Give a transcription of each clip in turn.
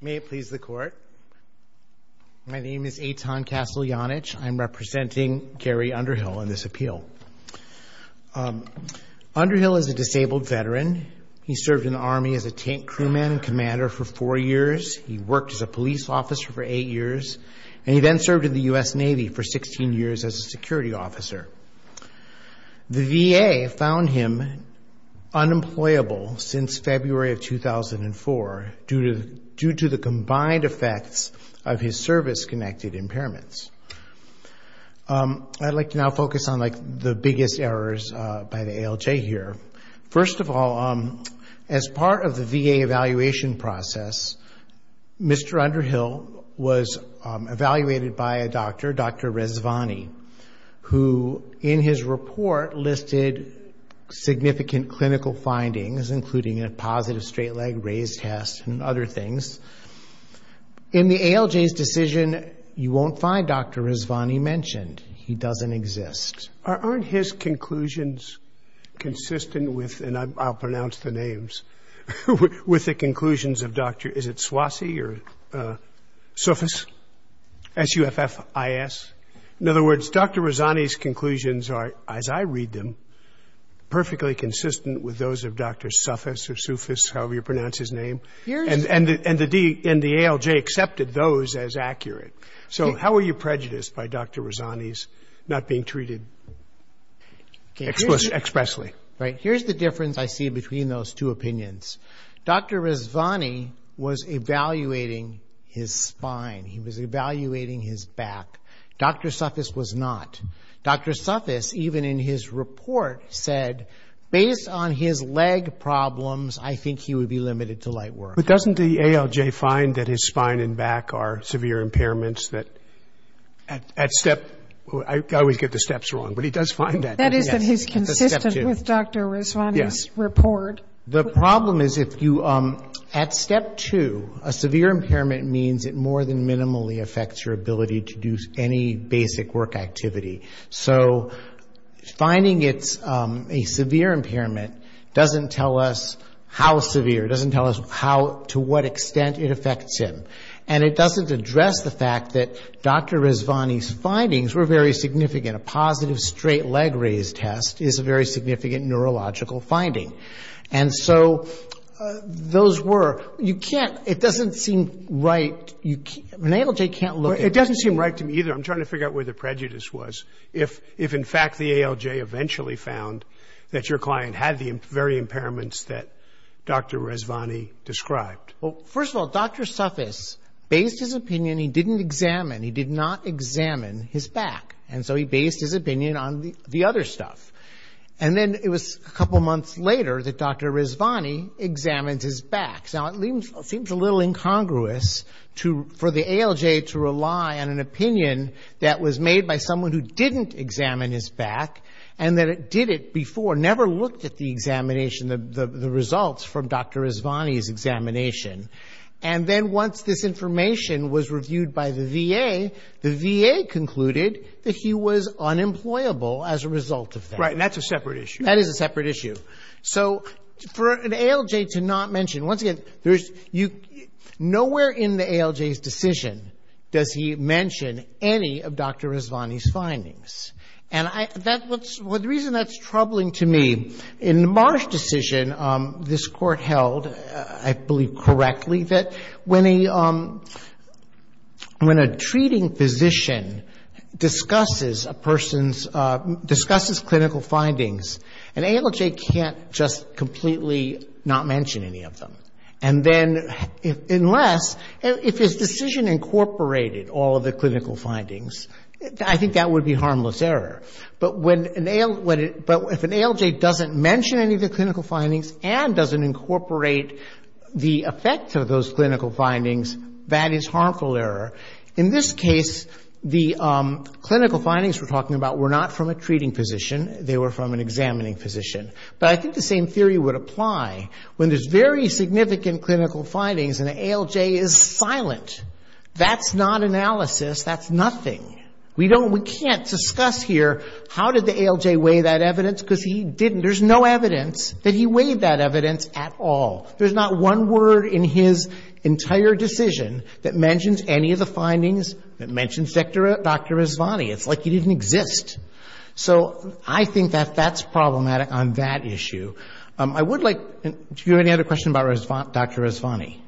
May it please the court. My name is Eitan Kasteljanich. I'm representing Gary Underhill in this appeal. Underhill is a disabled veteran. He served in the Army as a tank crewman and commander for four years. He worked as a police officer for eight years and he then served in the US Navy for 16 years as a security officer. The VA found him unemployable since February of 2004 due to the combined effects of his service-connected impairments. I'd like to now focus on the biggest errors by the ALJ here. First of all, as part of the VA evaluation process, Mr. Underhill was evaluated by a doctor, Dr. Resvani, who in his report listed significant clinical findings, including a positive straight leg raise test and other things. In the ALJ's decision, you won't find Dr. Resvani mentioned. He doesn't exist. Aren't his conclusions consistent with, and I'll pronounce the names, with the conclusions of Dr., is it Swasey or Swasey? His conclusions are, as I read them, perfectly consistent with those of Dr. Sufis or Sufis, however you pronounce his name. And the ALJ accepted those as accurate. So how are you prejudiced by Dr. Resvani's not being treated expressly? Right, here's the difference I see between those two opinions. Dr. Resvani was evaluating his spine. He was evaluating his back. Dr. Sufis, even in his report, said based on his leg problems, I think he would be limited to light work. But doesn't the ALJ find that his spine and back are severe impairments that at step, I always get the steps wrong, but he does find that. That is that he's consistent with Dr. Resvani's report. The problem is if you, at step two, a severe impairment means it more than minimally affects your activity. So finding it's a severe impairment doesn't tell us how severe, doesn't tell us how, to what extent it affects him. And it doesn't address the fact that Dr. Resvani's findings were very significant. A positive straight leg raise test is a very significant neurological finding. And so those were, you can't, it doesn't seem right. The ALJ can't look at it. It doesn't seem right to me either. I'm trying to figure out where the prejudice was. If in fact the ALJ eventually found that your client had the very impairments that Dr. Resvani described. Well, first of all, Dr. Sufis based his opinion, he didn't examine, he did not examine his back. And so he based his opinion on the other stuff. And then it was a couple months later that Dr. Resvani examined his back. Now it seems a little incongruous for the ALJ to rely on an opinion that was made by someone who didn't examine his back and that it did it before, never looked at the examination, the results from Dr. Resvani's examination. And then once this information was reviewed by the VA, the VA concluded that he was unemployable as a result of that. Right, and that's a separate issue. That is a separate issue. So for an ALJ to not mention, once again, nowhere in the ALJ's decision does he mention any of Dr. Resvani's findings. And the reason that's troubling to me, in the Marsh decision, this court held, I believe correctly, that when a treating physician discusses a person's, discusses clinical findings, an ALJ can't just completely not mention any of them. And then unless if his decision incorporated all of the clinical findings, I think that would be harmless error. But when an ALJ, but if an ALJ doesn't mention any of the clinical findings and doesn't incorporate the effect of those clinical findings, that is harmful error. In this case, the clinical findings we're talking about were not from a examining physician. But I think the same theory would apply when there's very significant clinical findings and the ALJ is silent. That's not analysis. That's nothing. We don't, we can't discuss here how did the ALJ weigh that evidence, because he didn't. There's no evidence that he weighed that evidence at all. There's not one word in his entire decision that mentions any of the findings that mentions Dr. Resvani. It's like he didn't exist. So I think that that's problematic on that issue. I would like, do you have any other questions about Dr. Resvani?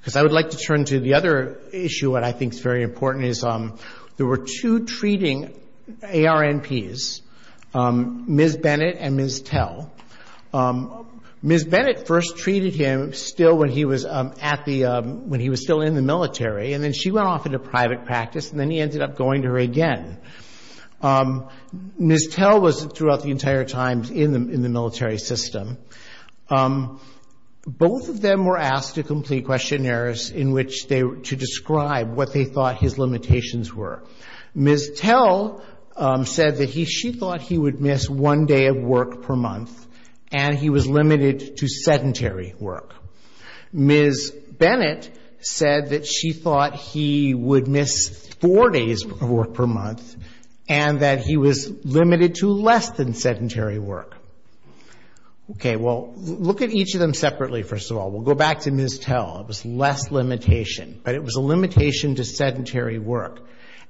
Because I would like to turn to the other issue that I think is very important is there were two treating ARNPs, Ms. Bennett and Ms. Tell. Ms. Bennett first treated him still when he was at the, when he was still in the military, and then she went off into private practice and then he ended up going to her again. Ms. Tell was throughout the entire time in the military system. Both of them were asked to complete questionnaires in which they, to describe what they thought his limitations were. Ms. Tell said that he, she thought he would miss one day of work per month, and he was four days of work per month, and that he was limited to less than sedentary work. Okay, well, look at each of them separately, first of all. We'll go back to Ms. Tell. It was less limitation, but it was a limitation to sedentary work.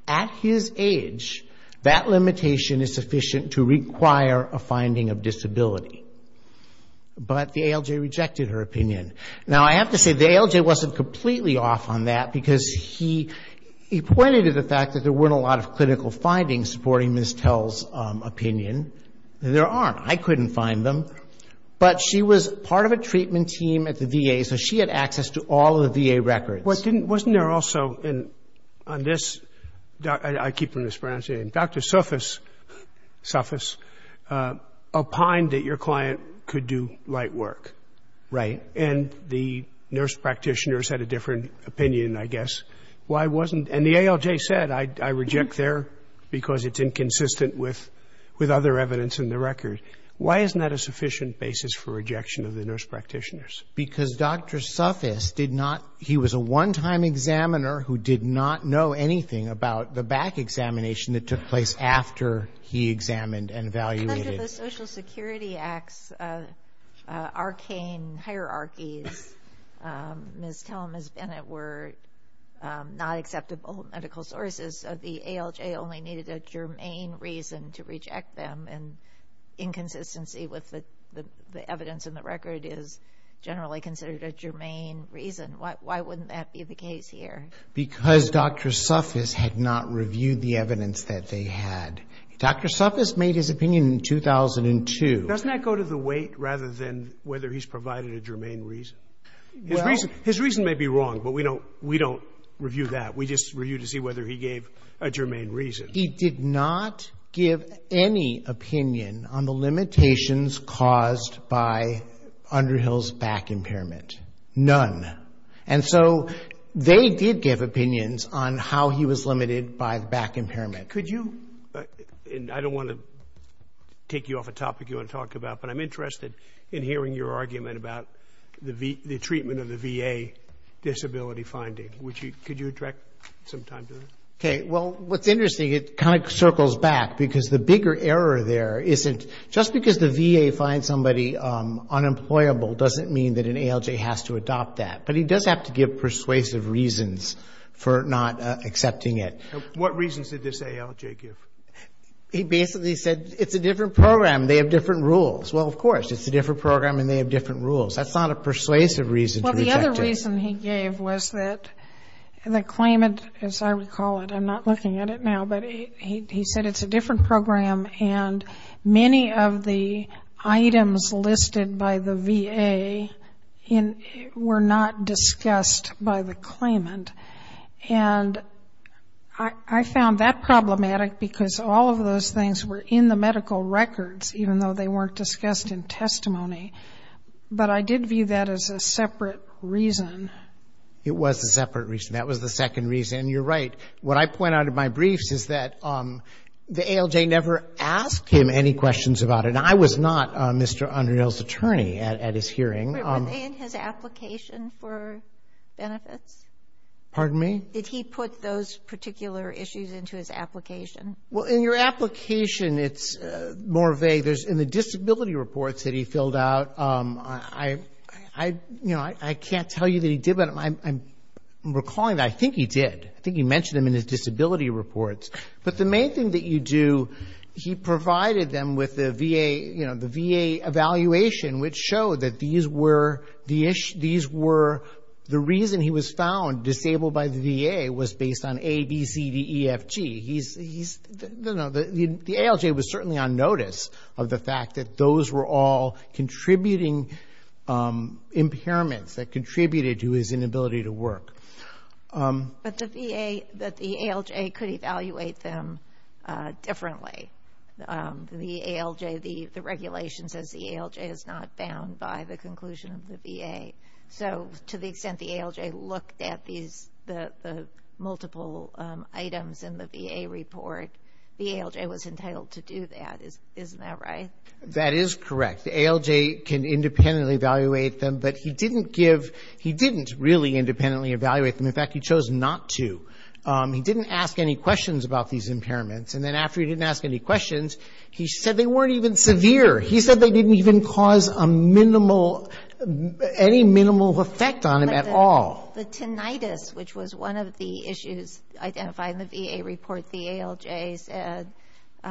At his age, that limitation is sufficient to require a finding of disability. But the ALJ rejected her opinion. Now, I have to say, the ALJ wasn't completely off on that because he, he pointed to the fact that there weren't a lot of clinical findings supporting Ms. Tell's opinion. There aren't. I couldn't find them. But she was part of a treatment team at the VA, so she had access to all of the VA records. Wasn't there also, on this, I keep mispronouncing it, Dr. Sufis, Sufis, opined that your client could do light work. Right. And the nurse practitioners had a different opinion, I guess. Why wasn't, and the ALJ said, I, I reject their, because it's inconsistent with, with other evidence in the record. Why isn't that a sufficient basis for rejection of the nurse practitioners? Because Dr. Sufis did not, he was a one-time examiner who did not know anything about the back examination that took place after he examined and evaluated. Under the Social Security Act's arcane hierarchies, Ms. Tell and Ms. Bennett were not acceptable medical sources. The ALJ only needed a germane reason to reject them, and inconsistency with the, the, the evidence in the record is generally considered a germane reason. Why, why wouldn't that be the case here? Because Dr. Sufis had not reviewed the evidence that they had. Dr. Sufis made his opinion in 2002. Doesn't that go to the weight rather than whether he's provided a germane reason? Well. His reason, his reason may be wrong, but we don't, we don't review that. We just review to see whether he gave a germane reason. He did not give any opinion on the limitations caused by Underhill's back impairment. None. And so, they did give opinions on how he was limited by the back impairment. Could you, and I don't want to take you off a topic you want to talk about, but I'm interested in hearing your argument about the VA, the treatment of the VA disability finding. Would you, could you direct some time to that? Okay. Well, what's interesting, it kind of circles back because the bigger error there isn't, just because the VA finds somebody unemployable doesn't mean that an ALJ has to adopt that. But he does have to give persuasive reasons for not accepting it. What reasons did this ALJ give? He basically said, it's a different program. They have different rules. Well, of course, it's a different program and they have different rules. That's not a persuasive reason to reject it. Well, the other reason he gave was that the claimant, as I recall it, I'm not looking at it now, but he said it's a different program and many of the items I found that problematic because all of those things were in the medical records, even though they weren't discussed in testimony. But I did view that as a separate reason. It was a separate reason. That was the second reason. You're right. What I point out in my briefs is that the ALJ never asked him any questions about it. I was not Mr. Underneal's attorney at his hearing. Were they in his application for benefits? Pardon me? Did he put those particular issues into his application? Well, in your application, it's more vague. In the disability reports that he filled out, I can't tell you that he did, but I'm recalling that I think he did. I think he mentioned them in his disability reports. But the main thing that you do, he provided them with the VA evaluation, which showed that these were the reason he was found disabled by the VA was based on A, B, C, D, E, F, G. He's, you know, the ALJ was certainly on notice of the fact that those were all contributing impairments that contributed to his inability to work. But the VA, that the ALJ could evaluate them differently. The ALJ, the extent the ALJ looked at these, the multiple items in the VA report, the ALJ was entitled to do that. Isn't that right? That is correct. The ALJ can independently evaluate them, but he didn't give, he didn't really independently evaluate them. In fact, he chose not to. He didn't ask any questions about these impairments. And then after he didn't ask any questions, he said they weren't even severe. He said they didn't even cause a minimal, any minimal effect on him at all. The tinnitus, which was one of the issues identified in the VA report, the ALJ said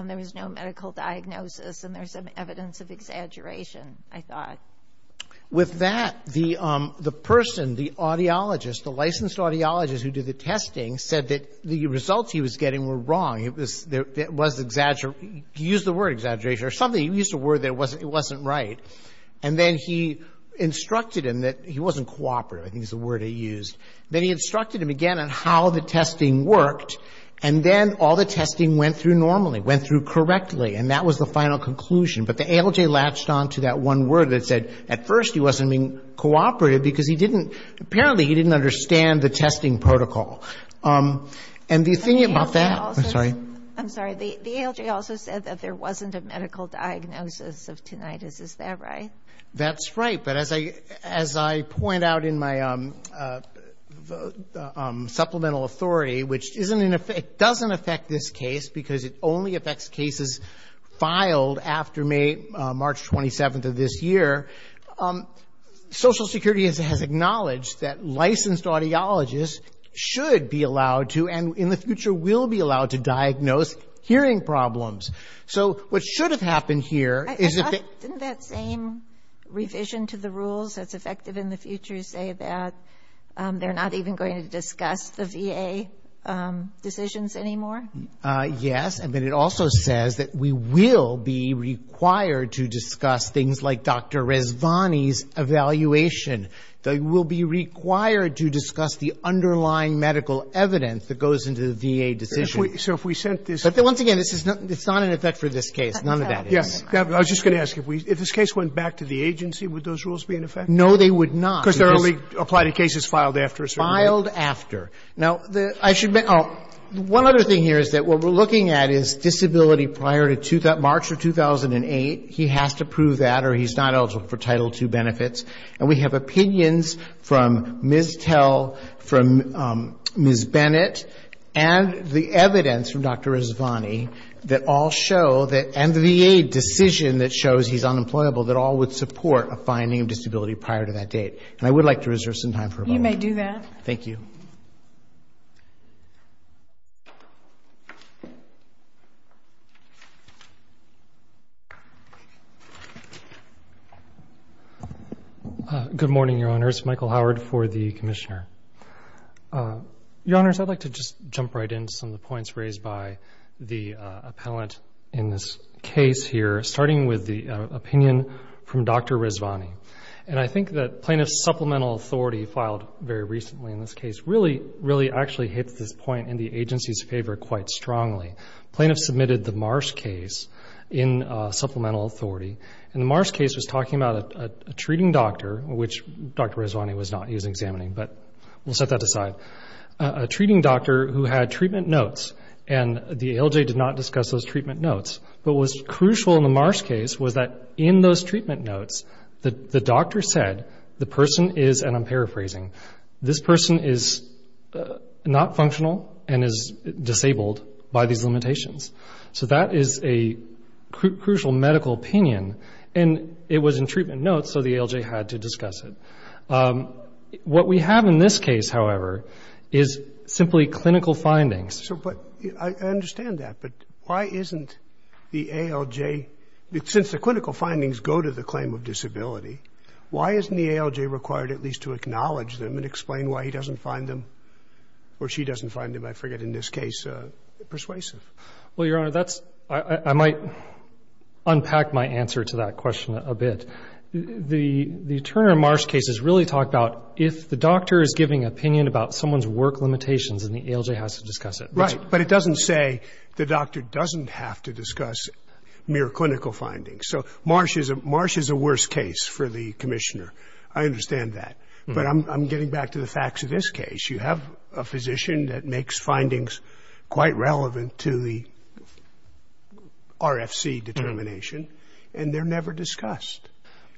there was no medical diagnosis and there's some evidence of exaggeration, I thought. With that, the person, the audiologist, the licensed audiologist who did the testing said that the results he was getting were wrong. It was, it was exaggeration. He used the word exaggeration or something. He used a word that wasn't, it wasn't right. And then he instructed him that, he wasn't cooperative, I think is the word he used. Then he instructed him again on how the testing worked. And then all the testing went through normally, went through correctly. And that was the final conclusion. But the ALJ latched on to that one word that said at first he wasn't being cooperative because he didn't, apparently he didn't understand the testing protocol. And the thing about that I'm sorry. I'm sorry. The ALJ also said that there wasn't a medical diagnosis of tinnitus. Is that right? That's right. But as I, as I point out in my supplemental authority, which isn't in effect, doesn't affect this case because it only affects cases filed after May, March 27th of this year, Social Security has acknowledged that licensed audiologists should be allowed to, and in the future will be allowed to, diagnose hearing problems. So what should have happened here is if Didn't that same revision to the rules that's effective in the future say that they're not even going to discuss the VA decisions anymore? Yes. And then it also says that we will be required to discuss things like Dr. Rezvani's evaluation. They will be required to discuss the underlying medical evidence that goes into the VA decision. So if we sent this But then once again, this is not, it's not in effect for this case. None of that is. Yes. I was just going to ask if we, if this case went back to the agency, would those rules be in effect? No, they would not. Because they're only applied to cases filed after a certain date. Filed after. Now, I should make, oh, one other thing here is that what we're looking at is disability prior to March of 2008. He has to prove that or he's not eligible for Title II benefits. And we have opinions from Ms. Tell, from Ms. Bennett and the evidence from Dr. Rezvani that all show that, and the VA decision that shows he's unemployable, that all would support a finding of disability prior to that date. And I would like to reserve some time for a moment. You may do that. Thank you. Good morning, Your Honors. Michael Howard for the Commissioner. Your Honors, I'd like to just jump right in to some of the points raised by the appellant in this case here, starting with the opinion from Dr. Rezvani. And I think that Plaintiff's Supplemental Authority filed very recently in this case really, really actually hit this point in the agency's favor quite strongly. Plaintiff submitted the Marsh case in Supplemental Authority. And the Marsh case was talking about a treating doctor, which Dr. Rezvani was not. He was examining. But we'll set that aside. A doctor who had treatment notes, and the ALJ did not discuss those treatment notes. But what was crucial in the Marsh case was that in those treatment notes, the doctor said, the person is, and I'm paraphrasing, this person is not functional and is disabled by these limitations. So that is a crucial medical opinion. And it was in treatment notes, so the ALJ had to discuss it. What we have in this case, however, is simply clinical findings. So, but, I understand that. But why isn't the ALJ, since the clinical findings go to the claim of disability, why isn't the ALJ required at least to acknowledge them and explain why he doesn't find them, or she doesn't find them, I forget, in this case, persuasive? Well, Your Honor, that's, I might unpack my answer to that question a bit. The doctor is giving opinion about someone's work limitations, and the ALJ has to discuss it. Right. But it doesn't say the doctor doesn't have to discuss mere clinical findings. So Marsh is a worse case for the commissioner. I understand that. But I'm getting back to the facts of this case. You have a physician that makes findings quite relevant to the RFC determination, and they're never discussed.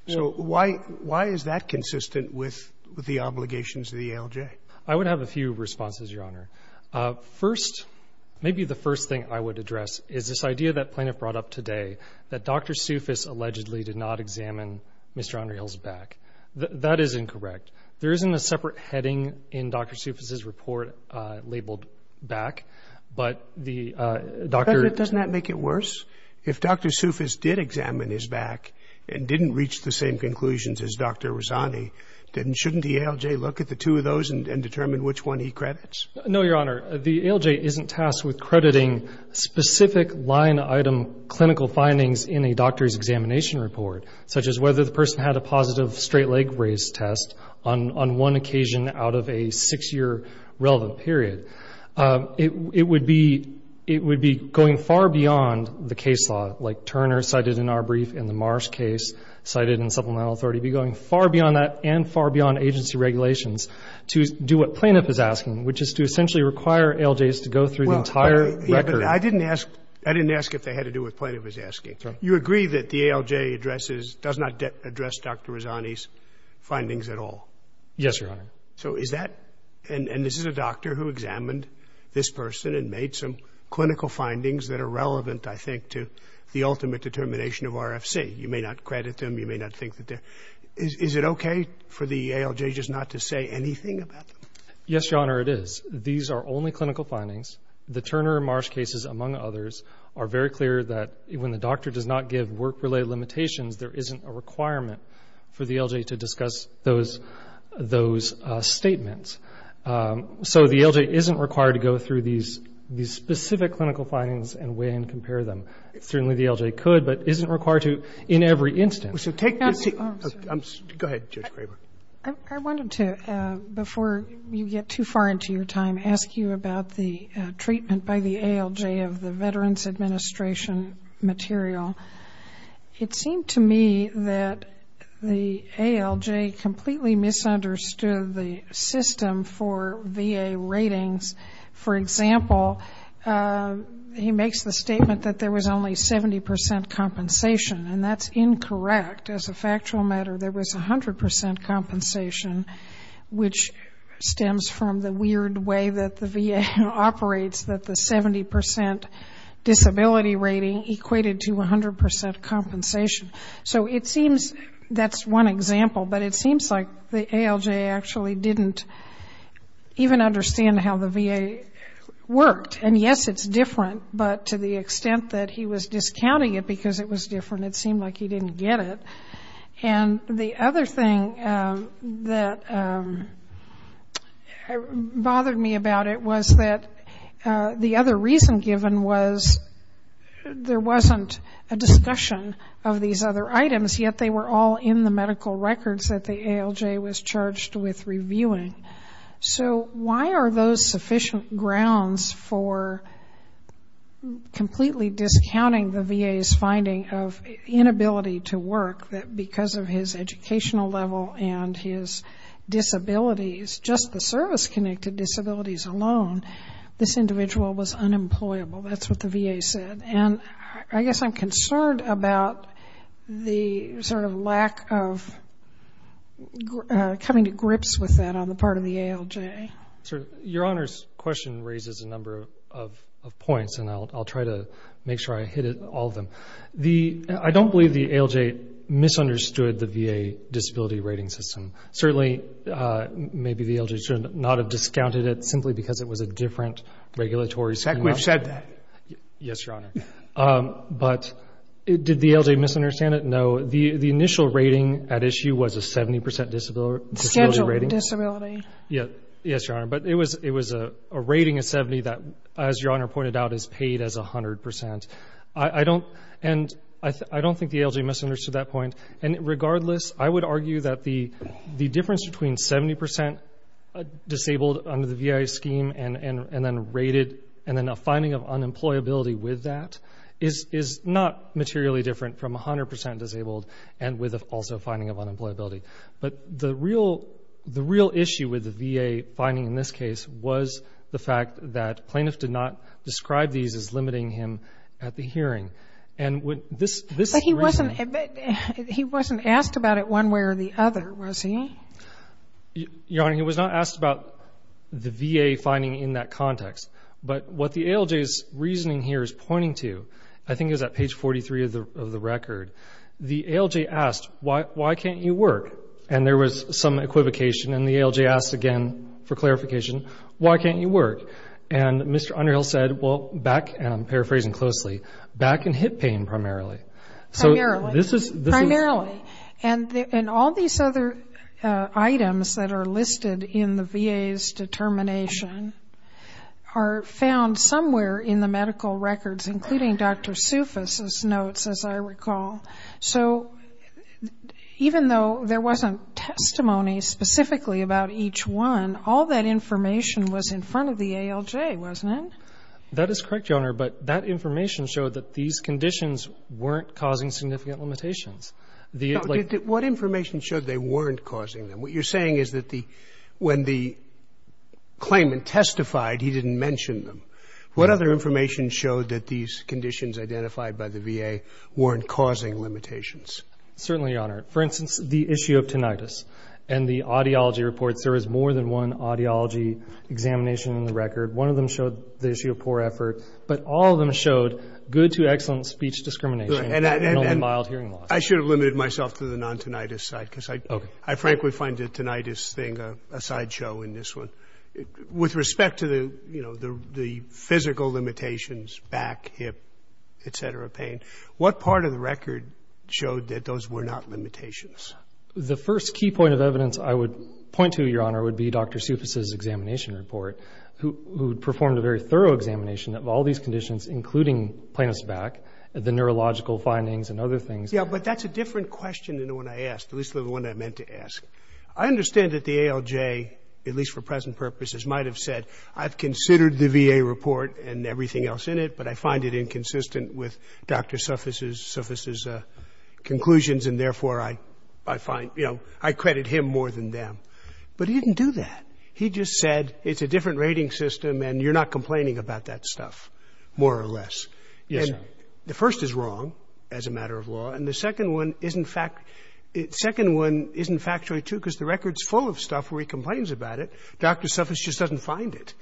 So why is that consistent with the obligations of the ALJ? I would have a few responses, Your Honor. First, maybe the first thing I would address is this idea that plaintiff brought up today, that Dr. Soufis allegedly did not examine Mr. Andreel's back. That is incorrect. There isn't a separate heading in Dr. Soufis' report labeled back, but the doctor... didn't reach the same conclusions as Dr. Razzani. Then shouldn't the ALJ look at the two of those and determine which one he credits? No, Your Honor. The ALJ isn't tasked with crediting specific line-item clinical findings in a doctor's examination report, such as whether the person had a positive straight-leg raised test on one occasion out of a six-year relevant period. It would be going far beyond the case law, like Turner cited in our brief and the Marsh case cited in Supplemental Authority, be going far beyond that and far beyond agency regulations to do what plaintiff is asking, which is to essentially require ALJs to go through the entire record. I didn't ask if they had to do what plaintiff was asking. You agree that the ALJ addresses, does not address Dr. Razzani's findings at all? Yes, Your Honor. So is that, and this is a doctor who examined this person and made some clinical findings that are relevant, I think, to the ultimate determination of RFC. You may not credit them. You may not think that they're, is it okay for the ALJ just not to say anything about them? Yes, Your Honor, it is. These are only clinical findings. The Turner and Marsh cases, among others, are very clear that when the doctor does not give work-related limitations, there isn't a requirement for the ALJ to discuss those statements. So the ALJ isn't required to go through these specific clinical findings and weigh and compare them. Certainly, the ALJ could, but isn't required to in every instance. Go ahead, Judge Graber. I wanted to, before you get too far into your time, ask you about the treatment by the ALJ of the Veterans Administration material. It seemed to me that the ALJ completely misunderstood the system for VA ratings. For example, he makes the statement that there was only 70% compensation, and that's incorrect. As a factual matter, there was 100% compensation, which stems from the weird way that the VA operates that the 70% disability rating equated to 100% So it seems that's one example, but it seems like the ALJ actually didn't even understand how the VA worked. And yes, it's different, but to the extent that he was discounting it because it was different, it seemed like he didn't get it. And the other thing that bothered me about it was that the other reason given was there wasn't a discussion of these other items, yet they were all in the medical records that the ALJ was charged with reviewing. So why are those sufficient grounds for completely discounting the VA's finding of inability to work, that because of his educational level and his disabilities, just the That's what the VA said. And I guess I'm concerned about the sort of lack of coming to grips with that on the part of the ALJ. Sir, your Honor's question raises a number of points, and I'll try to make sure I hit all of them. I don't believe the ALJ misunderstood the VA disability rating system. Certainly, maybe the ALJ should not have discounted it simply because it was a different regulatory scheme. In fact, we've said that. Yes, your Honor. But did the ALJ misunderstand it? No. The initial rating at issue was a 70% disability rating. Scheduled disability. Yes, your Honor. But it was a rating of 70 that, as your Honor pointed out, is paid as 100%. I don't think the ALJ misunderstood that point. And regardless, I would argue that the difference between 70% disabled under the VA scheme and then rated, and then a finding of unemployability with that, is not materially different from 100% disabled and with also a finding of unemployability. But the real issue with the VA finding in this case was the fact that plaintiff did not describe these as limiting him at the hearing. But he wasn't asked about it one way or the other, was he? Your Honor, he was not asked about the VA finding in that context. But what the ALJ's reasoning here is pointing to, I think it was at page 43 of the record, the ALJ asked, why can't you work? And there was some equivocation and the ALJ asked again for clarification, why can't you work? And Mr. Clark said, well, I can hit pain primarily. Primarily. Primarily. And all these other items that are listed in the VA's determination are found somewhere in the medical records, including Dr. Soufis' notes, as I recall. So even though there wasn't testimony specifically about each one, all that information was in front of the ALJ, wasn't it? That is correct, Your Honor. But that information showed that these conditions weren't causing significant limitations. What information showed they weren't causing them? What you're saying is that when the claimant testified, he didn't mention them. What other information showed that these conditions identified by the VA weren't causing limitations? Certainly, Your Honor. For instance, the issue of tinnitus and the audiology reports, there was more than one audiology examination in the record. One of them showed the issue of poor effort, but all of them showed good to excellent speech discrimination and mild hearing loss. I should have limited myself to the non-tinnitus side, because I frankly find the tinnitus thing a sideshow in this one. With respect to the physical limitations, back, hip, et cetera, pain, what part of the record showed that those were not limitations? The first key point of evidence I would point to, Your Honor, would be Dr. Sufis' conclusions, and therefore, I find, you know, I credit him more than them. But he didn't do that. He just said, it's a different rating system, and you're not complaining about that stuff, more or less. Yes, sir. And the first is wrong as a matter of law, and the second one isn't factually true, because the record's full of stuff where he complains about it. Dr. Sufis just doesn't find it.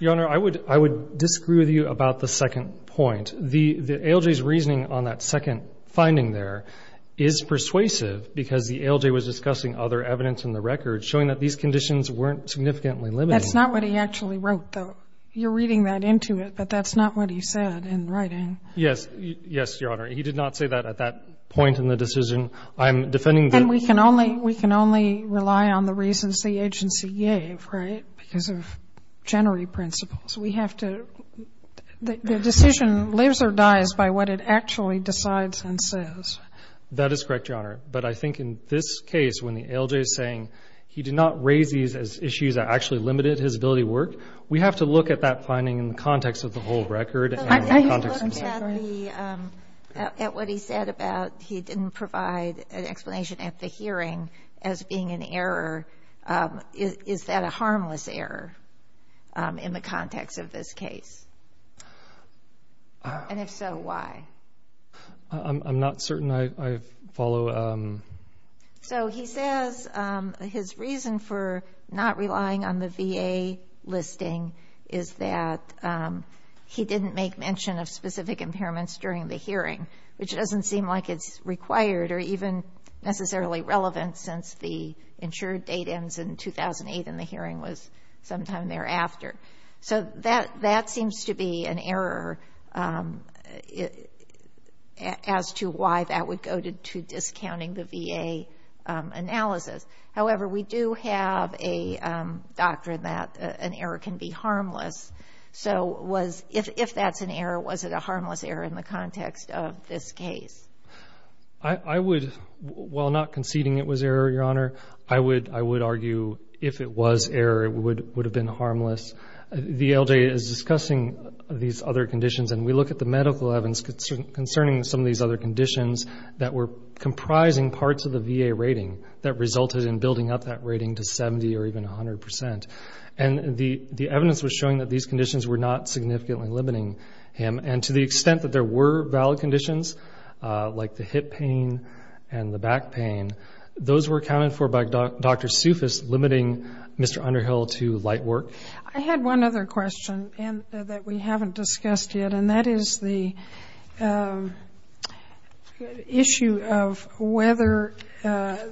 Your Honor, I would disagree with you about the second point. The ALJ's reasoning on that second finding there is persuasive, because the ALJ was discussing other evidence in the record showing that these conditions weren't significantly limiting. That's not what he actually wrote, though. You're reading that into it, but that's not what he said in writing. Yes. Yes, Your Honor. He did not say that at that point in the decision. I'm defending the — And we can only rely on the reasons the agency gave, right, because of genery principles. We have to — the decision lives or dies by what it actually decides and says. That is correct, Your Honor. But I think in this case, when the ALJ is saying he did not raise these as issues that actually limited his ability to work, we have to look at that finding in the context of the whole record and the context of the case. But if you look at the — at what he said about he didn't provide an explanation at the hearing as being an error, is that a harmless error in the context of this case? And if so, why? I'm not certain I follow — So he says his reason for not relying on the VA listing is that he didn't make mention of specific impairments during the hearing, which doesn't seem like it's required or even necessarily relevant since the insured date ends in 2008 and the hearing was sometime thereafter. So that seems to be an error as to why that would go to discounting the VA analysis. However, we do have a doctrine that an error can be harmless. So was — if that's an error, was it a harmless error in the context of this case? I would — while not conceding it was error, Your Honor, I would argue if it was error, it would have been harmless. The ALJ is discussing these other conditions and we look at the medical evidence concerning some of these other conditions that were comprising parts of the VA rating that resulted in building up that rating to 70 or even 100%. And the evidence was showing that these conditions were not significantly limiting him. And to the extent that there were valid conditions, like the hip pain and the back pain, those were accounted for by Dr. Soufis limiting Mr. Underhill to light work. I had one other question that we haven't discussed yet, and that is the issue of whether the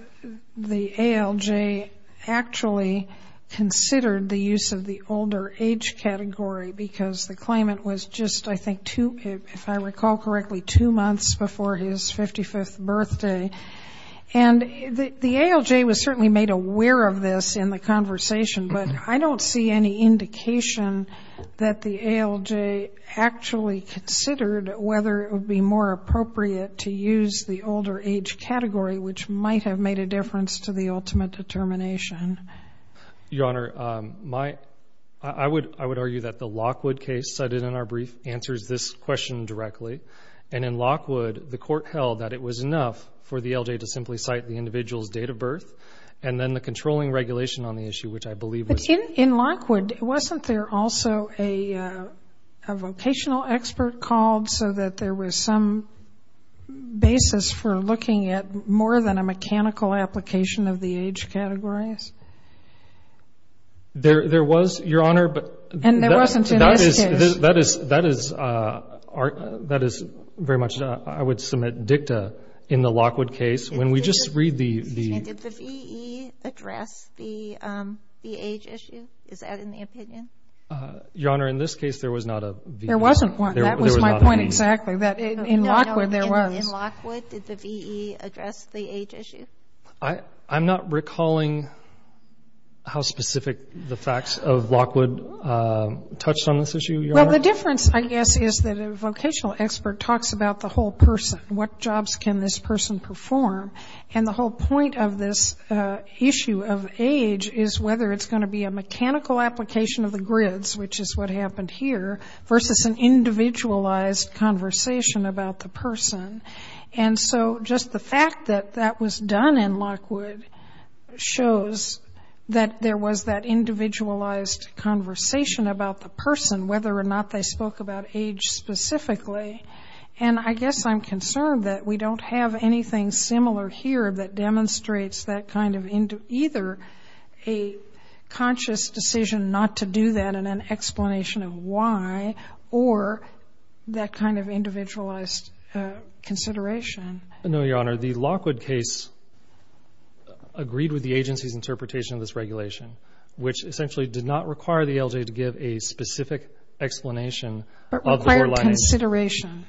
ALJ actually considered the use of the older age category because the claimant was just, I think, two — if I recall correctly, two months before his 55th birthday. And the ALJ was certainly made aware of this in the conversation, but I don't see any indication that the ALJ actually considered whether it would be more appropriate to use the older age category, which might have made a difference to the ultimate determination. Your Honor, my — I would argue that the Lockwood case cited in our brief answers this question directly. And in Lockwood, the court held that it was enough for the ALJ to simply cite the individual's date of birth and then the controlling regulation on the issue, which I believe was — But in Lockwood, wasn't there also a vocational expert called so that there was some basis for looking at more than a mechanical application of the age categories? There was, Your Honor, but — And there wasn't in this case. That is — that is very much — I would submit dicta in the Lockwood case. When we just read the — And did the V.E. address the age issue? Is that in the opinion? Your Honor, in this case, there was not a V.E. There wasn't one. That was my point exactly, that in Lockwood, there was. In Lockwood, did the V.E. address the age issue? I'm not recalling how specific the facts of Lockwood touched on this issue, Your Honor. Well, the difference, I guess, is that a vocational expert talks about the whole What jobs can this person perform? And the whole point of this issue of age is whether it's going to be a mechanical application of the grids, which is what happened here, versus an individualized conversation about the person. And so just the fact that that was done in Lockwood shows that there was that individualized conversation about the person, whether or not they spoke about specifically. And I guess I'm concerned that we don't have anything similar here that demonstrates that kind of either a conscious decision not to do that and an explanation of why, or that kind of individualized consideration. No, Your Honor. The Lockwood case agreed with the agency's interpretation of this regulation, which essentially did not require the L.J. to give a specific explanation of the poor lining. But required consideration.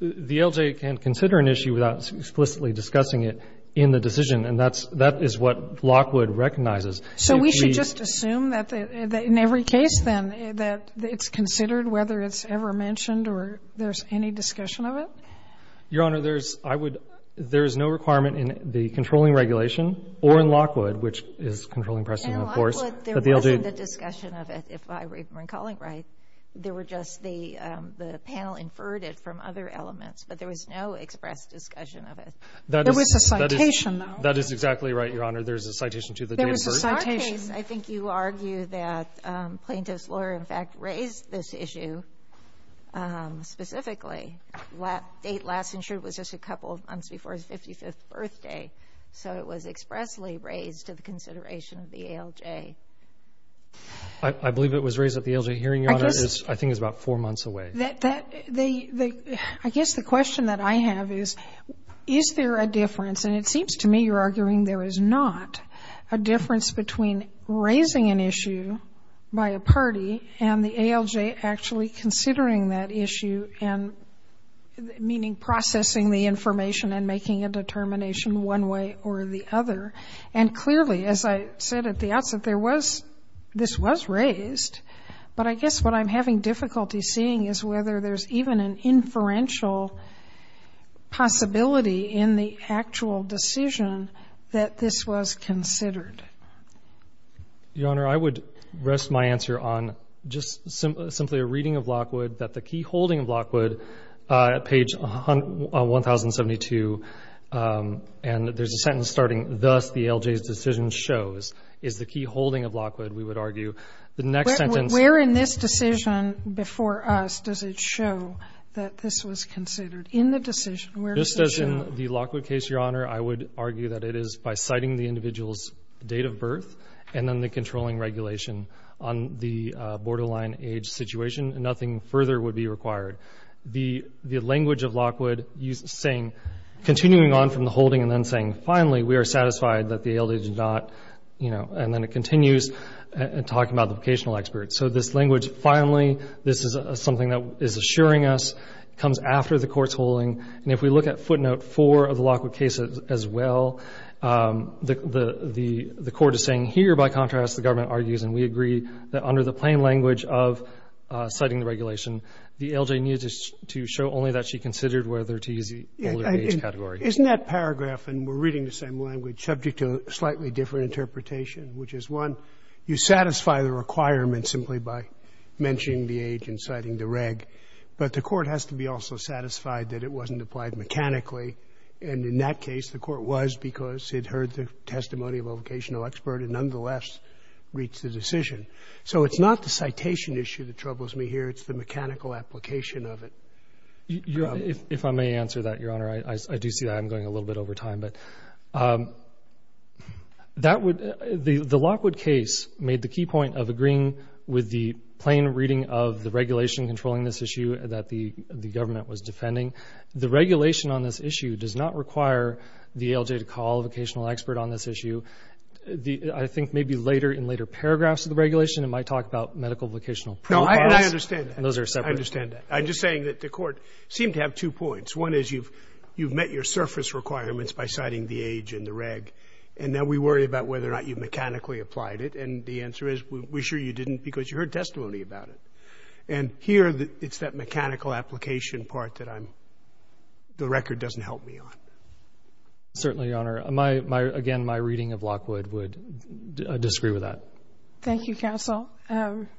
The L.J. can consider an issue without explicitly discussing it in the decision, and that is what Lockwood recognizes. So we should just assume that in every case, then, that it's considered, whether it's ever mentioned or there's any discussion of it? Your Honor, there's no requirement in the controlling regulation or in Lockwood, which is controlling precedent, of course, that the L.J. There was no discussion of it, if I remember calling it right. There were just the panel inferred it from other elements. But there was no express discussion of it. There was a citation, though. That is exactly right, Your Honor. There's a citation to the date of birth. There was a citation. I think you argue that plaintiff's lawyer, in fact, raised this issue specifically. Date last insured was just a couple of months before his 55th birthday. So it was expressly raised to the consideration of the L.J. I believe it was raised at the L.J. hearing, Your Honor. I guess. I think it was about four months away. I guess the question that I have is, is there a difference? And it seems to me you're arguing there is not a difference between raising an issue by a party and the A.L.J. actually considering that issue and, meaning, processing the information and making a determination one way or the other. And clearly, as I said at the outset, this was raised. But I guess what I'm having difficulty seeing is whether there's even an inferential possibility in the actual decision that this was considered. Your Honor, I would rest my answer on just simply a reading of Lockwood that the key shows is the key holding of Lockwood, we would argue. The next sentence. Where in this decision before us does it show that this was considered? In the decision, where does it show? Just as in the Lockwood case, Your Honor, I would argue that it is by citing the individual's date of birth and then the controlling regulation on the borderline age situation. Nothing further would be required. The language of Lockwood saying, continuing on from the holding and then saying, finally, we are satisfied that the A.L.J. did not, you know, and then it continues talking about the vocational expert. So this language, finally, this is something that is assuring us. It comes after the court's holding. And if we look at footnote four of the Lockwood case as well, the court is saying, here, by contrast, the government argues and we agree that under the plain language of citing the regulation, the A.L.J. needed to show only that she considered whether to use the older age category. Isn't that paragraph, and we're reading the same language, subject to a slightly different interpretation, which is, one, you satisfy the requirement simply by mentioning the age and citing the reg, but the court has to be also satisfied that it wasn't applied mechanically. And in that case, the court was because it heard the testimony of a vocational expert and nonetheless reached the decision. So it's not the citation issue that troubles me here. It's the mechanical application of it. If I may answer that, Your Honor, I do see that I'm going a little bit over time. But that would the Lockwood case made the key point of agreeing with the plain reading of the regulation controlling this issue that the government was defending. The regulation on this issue does not require the A.L.J. to call a vocational expert on this issue. I think maybe later, in later paragraphs of the regulation, it might talk about medical vocational protocols. And those are separate. I'm just saying that the court seemed to have two points. One is you've met your surface requirements by citing the age and the reg. And now we worry about whether or not you've mechanically applied it. And the answer is, we're sure you didn't because you heard testimony about it. And here, it's that mechanical application part that I'm the record doesn't help me on. Certainly, Your Honor. Again, my reading of Lockwood would disagree with that. Thank you, counsel.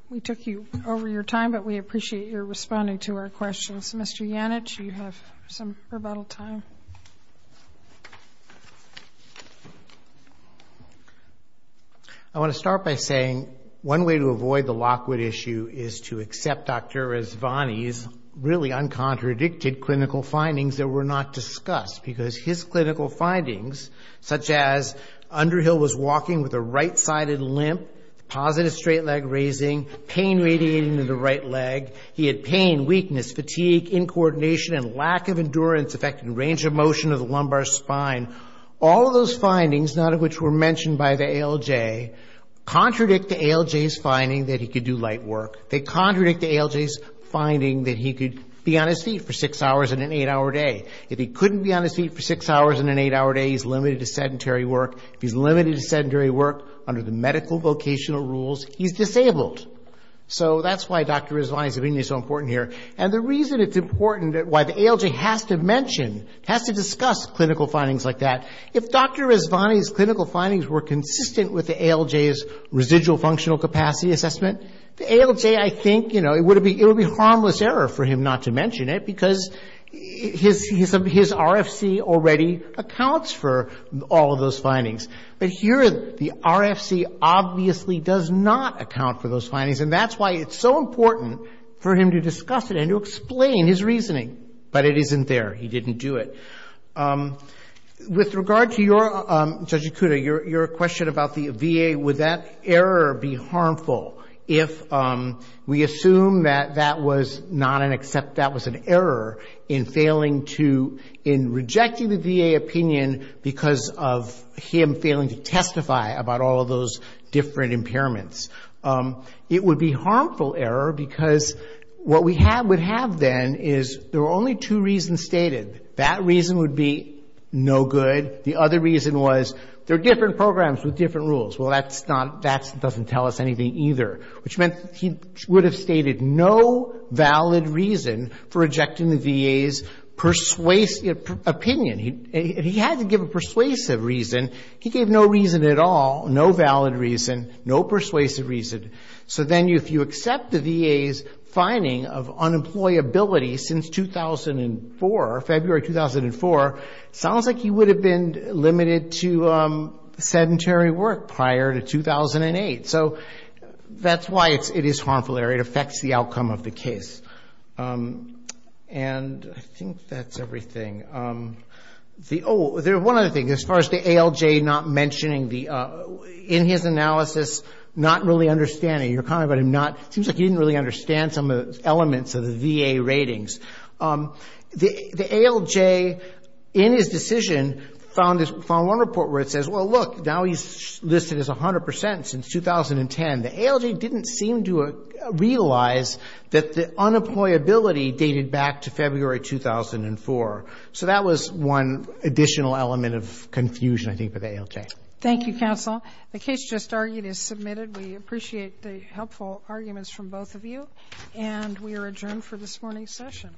We took you over your time. But we appreciate your responding to our questions. Mr. Yannich, you have some rebuttal time. I want to start by saying one way to avoid the Lockwood issue is to accept Dr. Rizvani's really uncontradicted clinical findings that were not discussed. Because his clinical findings, such as Underhill was walking with a right-sided limp, positive straight leg raising, pain radiating to the right leg. He had pain, weakness, fatigue, incoordination, and lack of endurance affecting range of motion of the lumbar spine. All of those findings, none of which were mentioned by the ALJ, contradict the ALJ's finding that he could do light work. They contradict the ALJ's finding that he could be on his feet for six hours in an eight-hour day. If he couldn't be on his feet for six hours in an eight-hour day, he's limited to sedentary work. If he's limited to sedentary work under the medical vocational rules, he's disabled. So that's why Dr. Rizvani's opinion is so important here. And the reason it's important, why the ALJ has to mention, has to discuss clinical findings like that, if Dr. Rizvani's clinical findings were consistent with the ALJ's residual functional capacity assessment, the ALJ, I think, you know, it would be a harmless error for him not to mention it because his RFC already accounts for all of those findings. But here, the RFC obviously does not account for those findings. And that's why it's so important for him to discuss it and to explain his reasoning. But it isn't there. He didn't do it. With regard to your, Judge Ikuda, your question about the VA, would that error be harmful if we assume that that was not an accept, that was an error in failing to, in rejecting the VA opinion because of him failing to testify about all of those different impairments? It would be a harmful error because what we have, would have then is there were only two reasons stated. That reason would be no good. The other reason was there are different programs with different rules. Well, that's not, that doesn't tell us anything either, which meant he would have stated no valid reason for rejecting the VA's persuasive opinion. He had to give a persuasive reason. He gave no reason at all, no valid reason, no persuasive reason. So then if you accept the VA's finding of unemployability since 2004, February 2004, sounds like he would have been limited to sedentary work prior to 2008. So that's why it is harmful error. It affects the outcome of the case. And I think that's everything. Oh, there's one other thing. As far as the ALJ not mentioning the, in his analysis, not really understanding, your comment about him not, seems like he didn't really understand some of the elements of the VA ratings. The ALJ in his decision found one report where it says, well, look, now he's listed as 100% since 2010. The ALJ didn't seem to realize that the unemployability dated back to February 2004. So that was one additional element of confusion, I think, for the ALJ. Thank you, counsel. The case just argued is submitted. We appreciate the helpful arguments from both of you. And we are adjourned for this morning's session.